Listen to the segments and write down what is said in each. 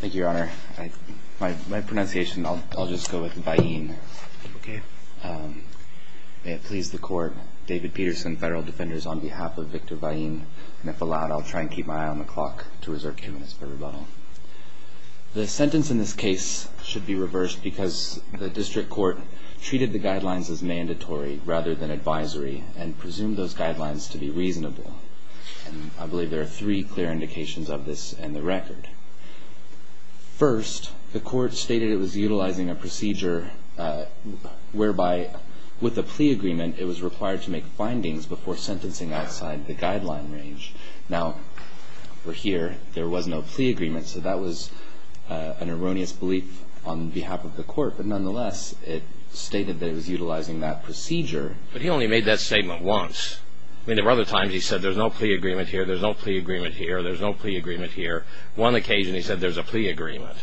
Thank you, Your Honor. My pronunciation, I'll just go with Vallin-Jauregui. Okay. May it please the Court, David Peterson, Federal Defenders, on behalf of Victor Vallin-Jauregui. And if allowed, I'll try and keep my eye on the clock to reserve two minutes for rebuttal. The sentence in this case should be reversed because the District Court treated the guidelines as mandatory rather than advisory and presumed those guidelines to be reasonable. And I believe there are three clear indications of this in the record. First, the Court stated it was utilizing a procedure whereby, with a plea agreement, it was required to make findings before sentencing outside the guideline range. Now, we're here. There was no plea agreement, so that was an erroneous belief on behalf of the Court. But nonetheless, it stated that it was utilizing that procedure. But he only made that statement once. I mean, there were other times he said, there's no plea agreement here, there's no plea agreement here, there's no plea agreement here. One occasion he said, there's a plea agreement.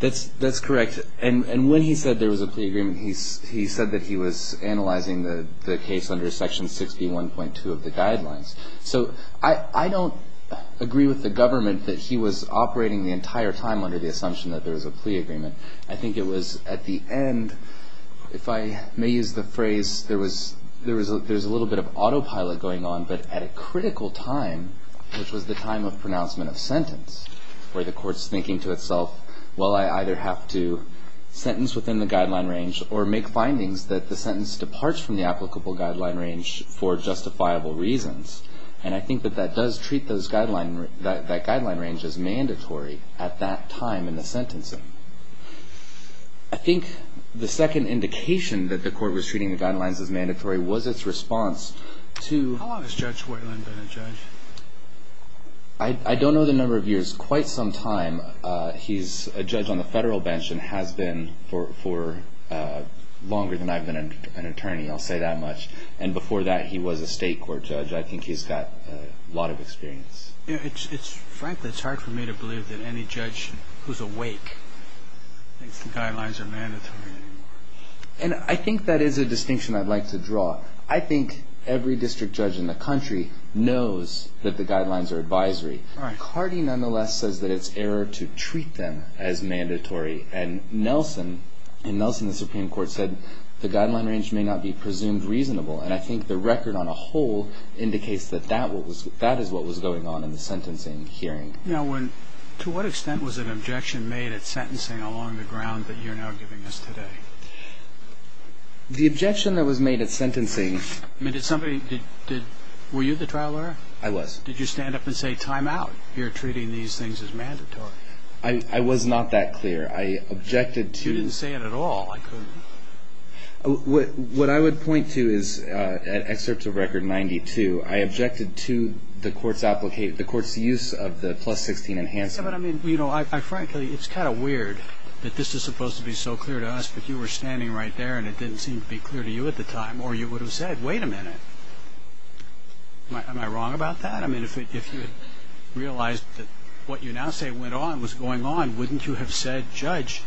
That's correct. And when he said there was a plea agreement, he said that he was analyzing the case under Section 61.2 of the guidelines. So I don't agree with the government that he was operating the entire time under the assumption that there was a plea agreement. I think it was at the end, if I may use the phrase, there was a little bit of autopilot going on, but at a critical time, which was the time of pronouncement of sentence, where the Court's thinking to itself, well, I either have to sentence within the guideline range or make findings that the sentence departs from the applicable guideline range for justifiable reasons. And I think that that does treat that guideline range as mandatory at that time in the sentencing. I think the second indication that the Court was treating the guidelines as mandatory was its response to How long has Judge Whalen been a judge? I don't know the number of years. Quite some time, he's a judge on the federal bench and has been for longer than I've been an attorney, I'll say that much. And before that, he was a state court judge. I think he's got a lot of experience. Frankly, it's hard for me to believe that any judge who's awake thinks the guidelines are mandatory anymore. And I think that is a distinction I'd like to draw. I think every district judge in the country knows that the guidelines are advisory. Cardee, nonetheless, says that it's error to treat them as mandatory. And Nelson, the Supreme Court, said the guideline range may not be presumed reasonable. And I think the record on a whole indicates that that is what was going on in the sentencing hearing. Now, to what extent was an objection made at sentencing along the ground that you're now giving us today? The objection that was made at sentencing... I mean, were you the trial lawyer? I was. Did you stand up and say, time out, you're treating these things as mandatory? I was not that clear. I objected to... You didn't say it at all. What I would point to is, at excerpts of Record 92, I objected to the court's use of the plus 16 enhancement. You know, frankly, it's kind of weird that this is supposed to be so clear to us, but you were standing right there and it didn't seem to be clear to you at the time. Or you would have said, wait a minute, am I wrong about that? I mean, if you had realized that what you now say went on was going on, wouldn't you have said, Judge,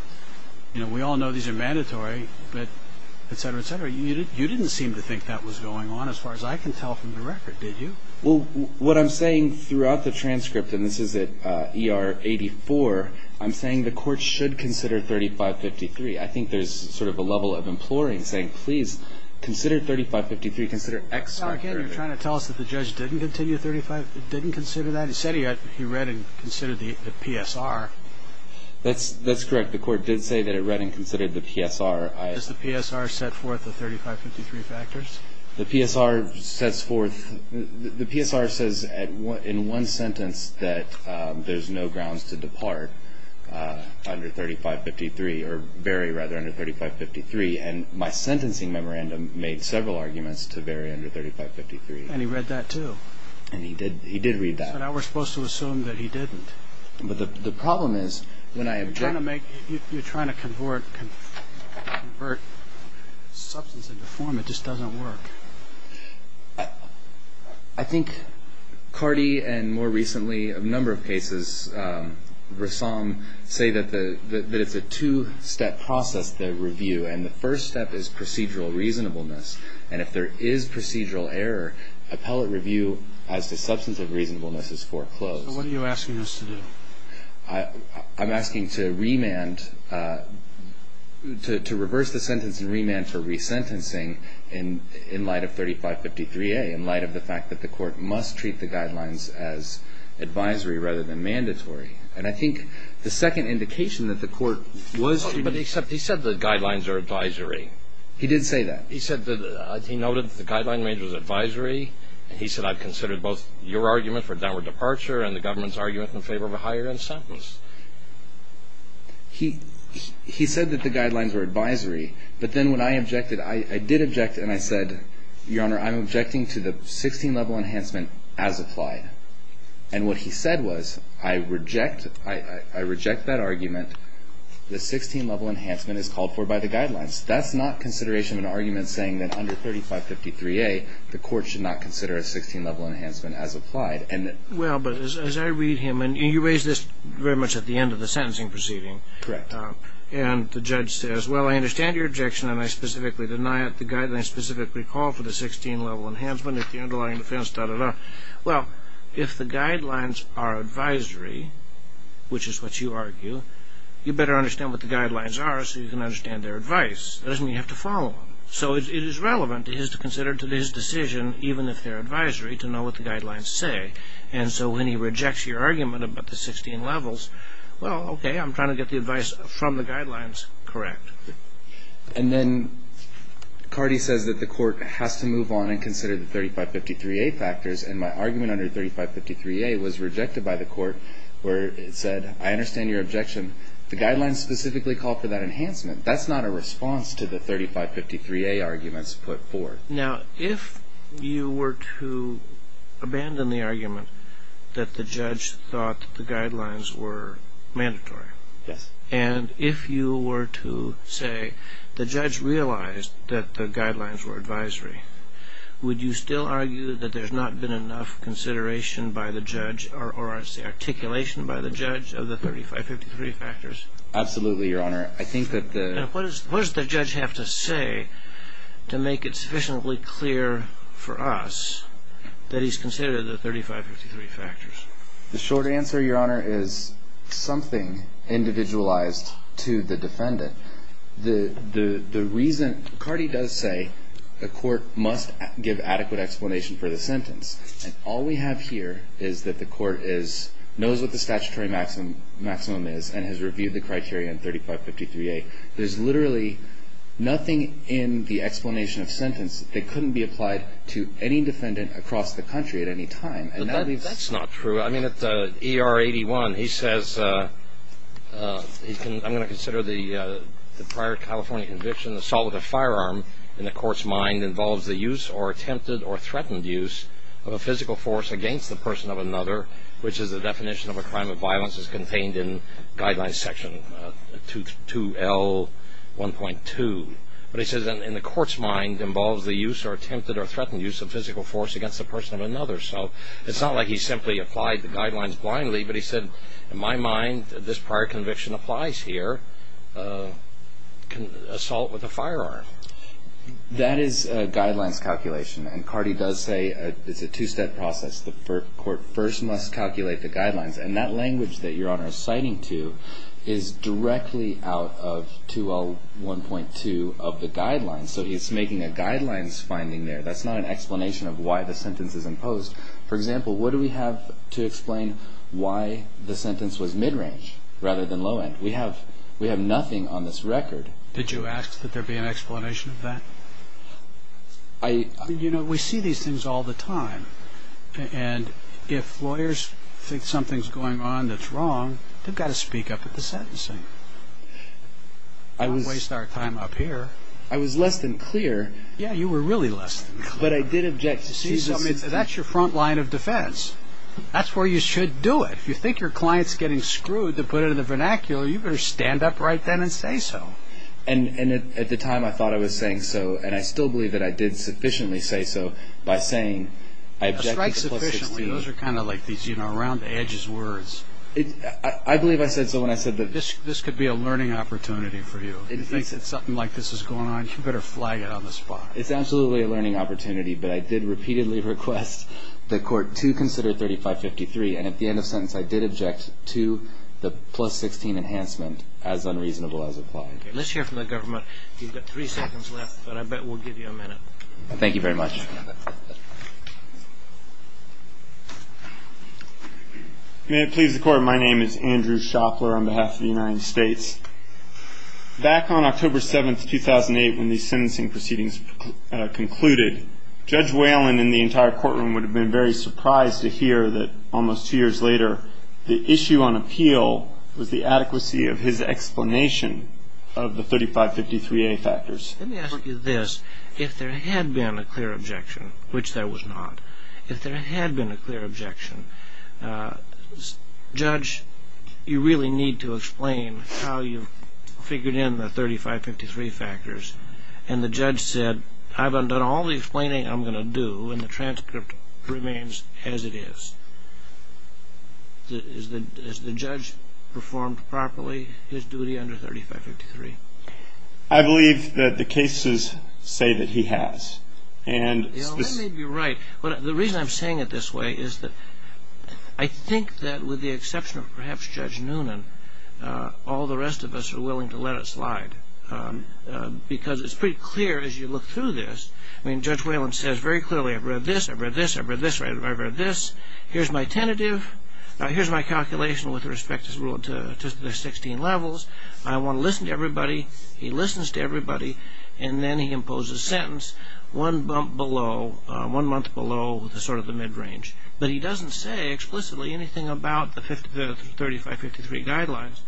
you know, we all know these are mandatory, et cetera, et cetera. You didn't seem to think that was going on as far as I can tell from the record, did you? Well, what I'm saying throughout the transcript, and this is at ER 84, I'm saying the court should consider 3553. I think there's sort of a level of imploring, saying, please, consider 3553, consider... Now, again, you're trying to tell us that the judge didn't consider that? He said he read and considered the PSR. That's correct. The court did say that it read and considered the PSR. Does the PSR set forth the 3553 factors? The PSR says in one sentence that there's no grounds to depart under 3553, or vary, rather, under 3553. And my sentencing memorandum made several arguments to vary under 3553. And he read that, too? And he did read that. So now we're supposed to assume that he didn't. But the problem is, when I object... You're trying to convert substance into form. It just doesn't work. I think Cardi and, more recently, a number of cases, Rassam, say that it's a two-step process, the review, and the first step is procedural reasonableness. And if there is procedural error, appellate review as to substance of reasonableness is foreclosed. So what are you asking us to do? I'm asking to reverse the sentence and remand for resentencing in light of 3553A, in light of the fact that the court must treat the guidelines as advisory rather than mandatory. And I think the second indication that the court was... But he said the guidelines are advisory. He did say that. He noted that the guideline made was advisory. He said, I've considered both your argument for downward departure and the government's argument in favor of a higher end sentence. He said that the guidelines were advisory. But then when I objected, I did object, and I said, Your Honor, I'm objecting to the 16-level enhancement as applied. And what he said was, I reject that argument. The 16-level enhancement is called for by the guidelines. That's not consideration of an argument saying that under 3553A, the court should not consider a 16-level enhancement as applied. Well, but as I read him, and you raise this very much at the end of the sentencing proceeding. Correct. And the judge says, well, I understand your objection, and I specifically deny it. The guidelines specifically call for the 16-level enhancement if the underlying defense, da-da-da. Well, if the guidelines are advisory, which is what you argue, you better understand what the guidelines are so you can understand their advice. It doesn't mean you have to follow them. So it is relevant to his decision, even if they're advisory, to know what the guidelines say. And so when he rejects your argument about the 16 levels, well, okay, I'm trying to get the advice from the guidelines correct. And then Cardi says that the court has to move on and consider the 3553A factors. And my argument under 3553A was rejected by the court where it said, I understand your objection. The guidelines specifically call for that enhancement. That's not a response to the 3553A arguments put forth. Now, if you were to abandon the argument that the judge thought the guidelines were mandatory. Yes. And if you were to say the judge realized that the guidelines were advisory, would you still argue that there's not been enough consideration by the judge or I should say articulation by the judge of the 3553 factors? Absolutely, Your Honor. I think that the- And what does the judge have to say to make it sufficiently clear for us that he's considered the 3553 factors? The short answer, Your Honor, is something individualized to the defendant. The reason-Cardi does say the court must give adequate explanation for the sentence. And all we have here is that the court knows what the statutory maximum is and has reviewed the criteria in 3553A. There's literally nothing in the explanation of sentence that couldn't be applied to any defendant across the country at any time. But that's not true. I mean, at ER 81, he says-I'm going to consider the prior California conviction, assault with a firearm in the court's mind involves the use or attempted or threatened use of a physical force against the person of another, which is the definition of a crime of violence as contained in Guidelines Section 2L1.2. But he says in the court's mind involves the use or attempted or threatened use of physical force against the person of another. So it's not like he simply applied the guidelines blindly. But he said, in my mind, this prior conviction applies here, assault with a firearm. That is a guidelines calculation. And Cardi does say it's a two-step process. The court first must calculate the guidelines. And that language that Your Honor is citing to is directly out of 2L1.2 of the guidelines. So it's making a guidelines finding there. That's not an explanation of why the sentence is imposed. For example, what do we have to explain why the sentence was mid-range rather than low-end? We have nothing on this record. Did you ask that there be an explanation of that? You know, we see these things all the time. And if lawyers think something's going on that's wrong, they've got to speak up at the sentencing. Don't waste our time up here. I was less than clear. Yeah, you were really less than clear. But I did object to see something. That's your front line of defense. That's where you should do it. If you think your client's getting screwed to put it in the vernacular, you better stand up right then and say so. And at the time, I thought I was saying so. And I still believe that I did sufficiently say so by saying I object to the plus 16. A strike sufficiently. Those are kind of like these around-the-edges words. I believe I said so when I said that. This could be a learning opportunity for you. If you think something like this is going on, you better flag it on the spot. It's absolutely a learning opportunity. But I did repeatedly request the court to consider 3553. And at the end of the sentence, I did object to the plus 16 enhancement as unreasonable as applied. Let's hear from the government. You've got three seconds left, but I bet we'll give you a minute. Thank you very much. May it please the Court. Your Honor, my name is Andrew Shopler on behalf of the United States. Back on October 7th, 2008, when these sentencing proceedings concluded, Judge Whalen and the entire courtroom would have been very surprised to hear that almost two years later, the issue on appeal was the adequacy of his explanation of the 3553A factors. Let me ask you this. If there had been a clear objection, which there was not, if there had been a clear objection, Judge, you really need to explain how you figured in the 3553 factors. And the judge said, I've done all the explaining I'm going to do, and the transcript remains as it is. Has the judge performed properly his duty under 3553? I believe that the cases say that he has. That may be right. The reason I'm saying it this way is that I think that with the exception of perhaps Judge Noonan, all the rest of us are willing to let it slide because it's pretty clear as you look through this. I mean, Judge Whalen says very clearly, I've read this, I've read this, I've read this, I've read this. Here's my tentative. Here's my calculation with respect to the 16 levels. I want to listen to everybody. He listens to everybody, and then he imposes a sentence one month below sort of the mid-range. But he doesn't say explicitly anything about the 3553 guidelines.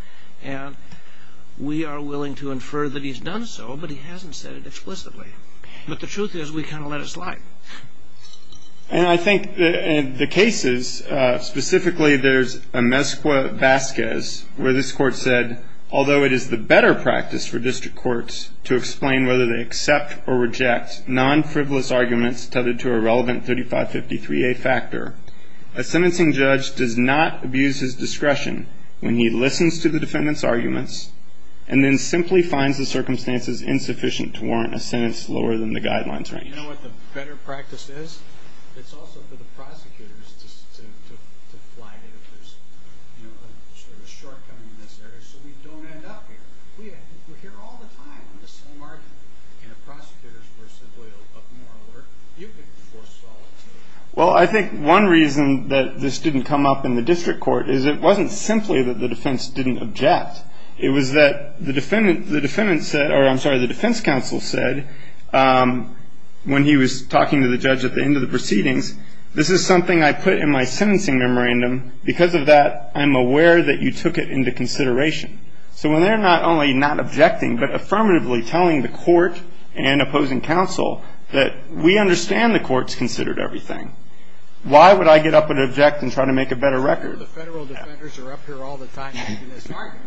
And we are willing to infer that he's done so, but he hasn't said it explicitly. But the truth is we kind of let it slide. And I think the cases, specifically there's a Mescua-Vasquez where this court said, although it is the better practice for district courts to explain whether they accept or reject non-frivolous arguments tethered to a relevant 3553A factor, a sentencing judge does not abuse his discretion when he listens to the defendant's arguments and then simply finds the circumstances insufficient to warrant a sentence lower than the guidelines range. You know what the better practice is? It's also for the prosecutors to flag it if there's a shortcoming in this area so we don't end up here. We're here all the time on the same argument. And if prosecutors were simply a little more alert, you could force a follow-up. Well, I think one reason that this didn't come up in the district court is it wasn't simply that the defense didn't object. It was that the defendant said or I'm sorry, the defense counsel said when he was talking to the judge at the end of the proceedings, this is something I put in my sentencing memorandum. Because of that, I'm aware that you took it into consideration. So when they're not only not objecting but affirmatively telling the court and opposing counsel that we understand the court's considered everything, why would I get up and object and try to make a better record? I'm sure the federal defenders are up here all the time making this argument.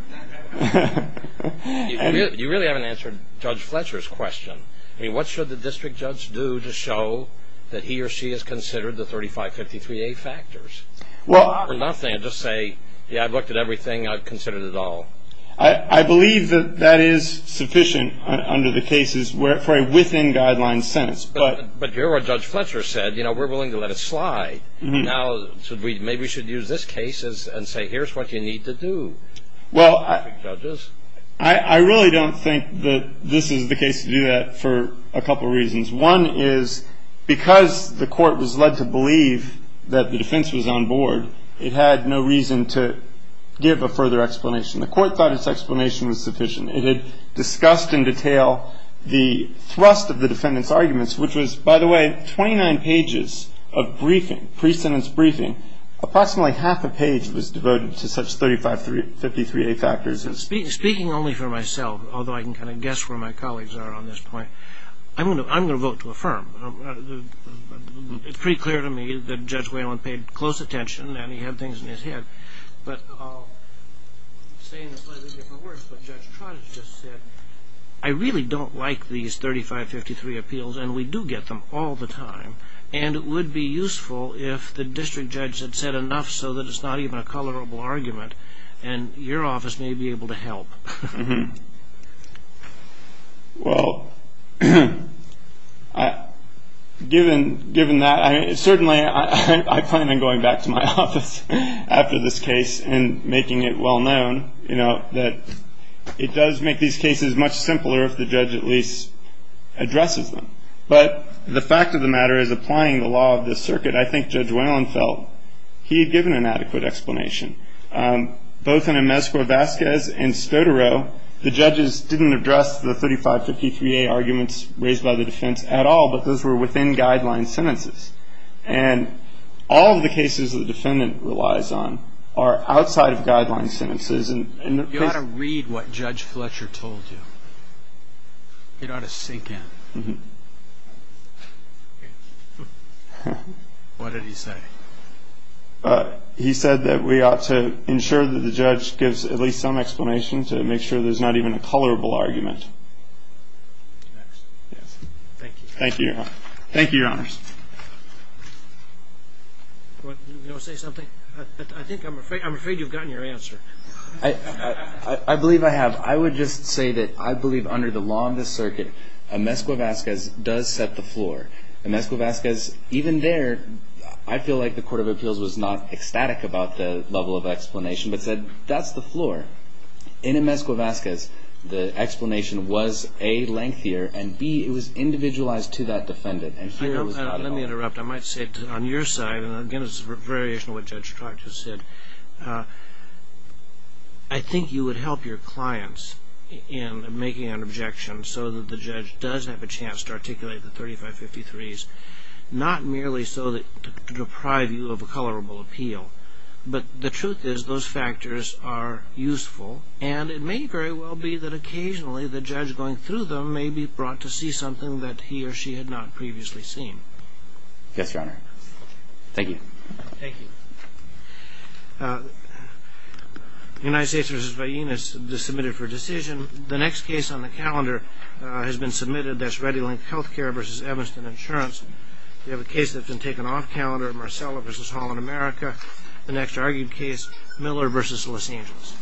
You really haven't answered Judge Fletcher's question. I mean, what should the district judge do to show that he or she has considered the 3553A factors? For nothing, just say, yeah, I've looked at everything. I've considered it all. I believe that that is sufficient under the cases for a within-guidelines sentence. But here what Judge Fletcher said, you know, we're willing to let it slide. Now maybe we should use this case and say here's what you need to do. Well, I really don't think that this is the case to do that for a couple reasons. One is because the court was led to believe that the defense was on board, it had no reason to give a further explanation. The court thought its explanation was sufficient. Which was, by the way, 29 pages of briefing, pre-sentence briefing. Approximately half a page was devoted to such 3553A factors. Speaking only for myself, although I can kind of guess where my colleagues are on this point, I'm going to vote to affirm. It's pretty clear to me that Judge Whalen paid close attention and he had things in his head. But I'll say in slightly different words what Judge Trott has just said. I really don't like these 3553 appeals, and we do get them all the time. And it would be useful if the district judge had said enough so that it's not even a colorable argument and your office may be able to help. Well, given that, certainly I plan on going back to my office after this case and making it well known, you know, that it does make these cases much simpler if the judge at least addresses them. But the fact of the matter is applying the law of this circuit, I think Judge Whalen felt he had given an adequate explanation. Both in Inmezcua-Vasquez and Stodaro, the judges didn't address the 3553A arguments raised by the defense at all, but those were within guideline sentences. And all of the cases the defendant relies on are outside of guideline sentences. You ought to read what Judge Fletcher told you. You ought to sink in. What did he say? He said that we ought to ensure that the judge gives at least some explanation to make sure there's not even a colorable argument. Thank you. Thank you, Your Honor. Thank you, Your Honors. Do you want to say something? I think I'm afraid you've gotten your answer. I believe I have. I would just say that I believe under the law of this circuit, Inmezcua-Vasquez does set the floor. Inmezcua-Vasquez, even there, I feel like the Court of Appeals was not ecstatic about the level of explanation but said that's the floor. Inmezcua-Vasquez, the explanation was, A, lengthier, and, B, it was individualized to that defendant. Let me interrupt. I might say on your side, and, again, it's a variation of what Judge Tracht just said, I think you would help your clients in making an objection so that the judge does have a chance to articulate the 3553s, not merely so to deprive you of a colorable appeal, but the truth is those factors are useful, and it may very well be that occasionally the judge going through them may be brought to see something that he or she had not previously seen. Yes, Your Honor. Thank you. Thank you. United States v. Vaheen is submitted for decision. The next case on the calendar has been submitted. That's ReadyLink Healthcare v. Evanston Insurance. We have a case that's been taken off calendar, Marcella v. Holland America. The next argued case, Miller v. Los Angeles.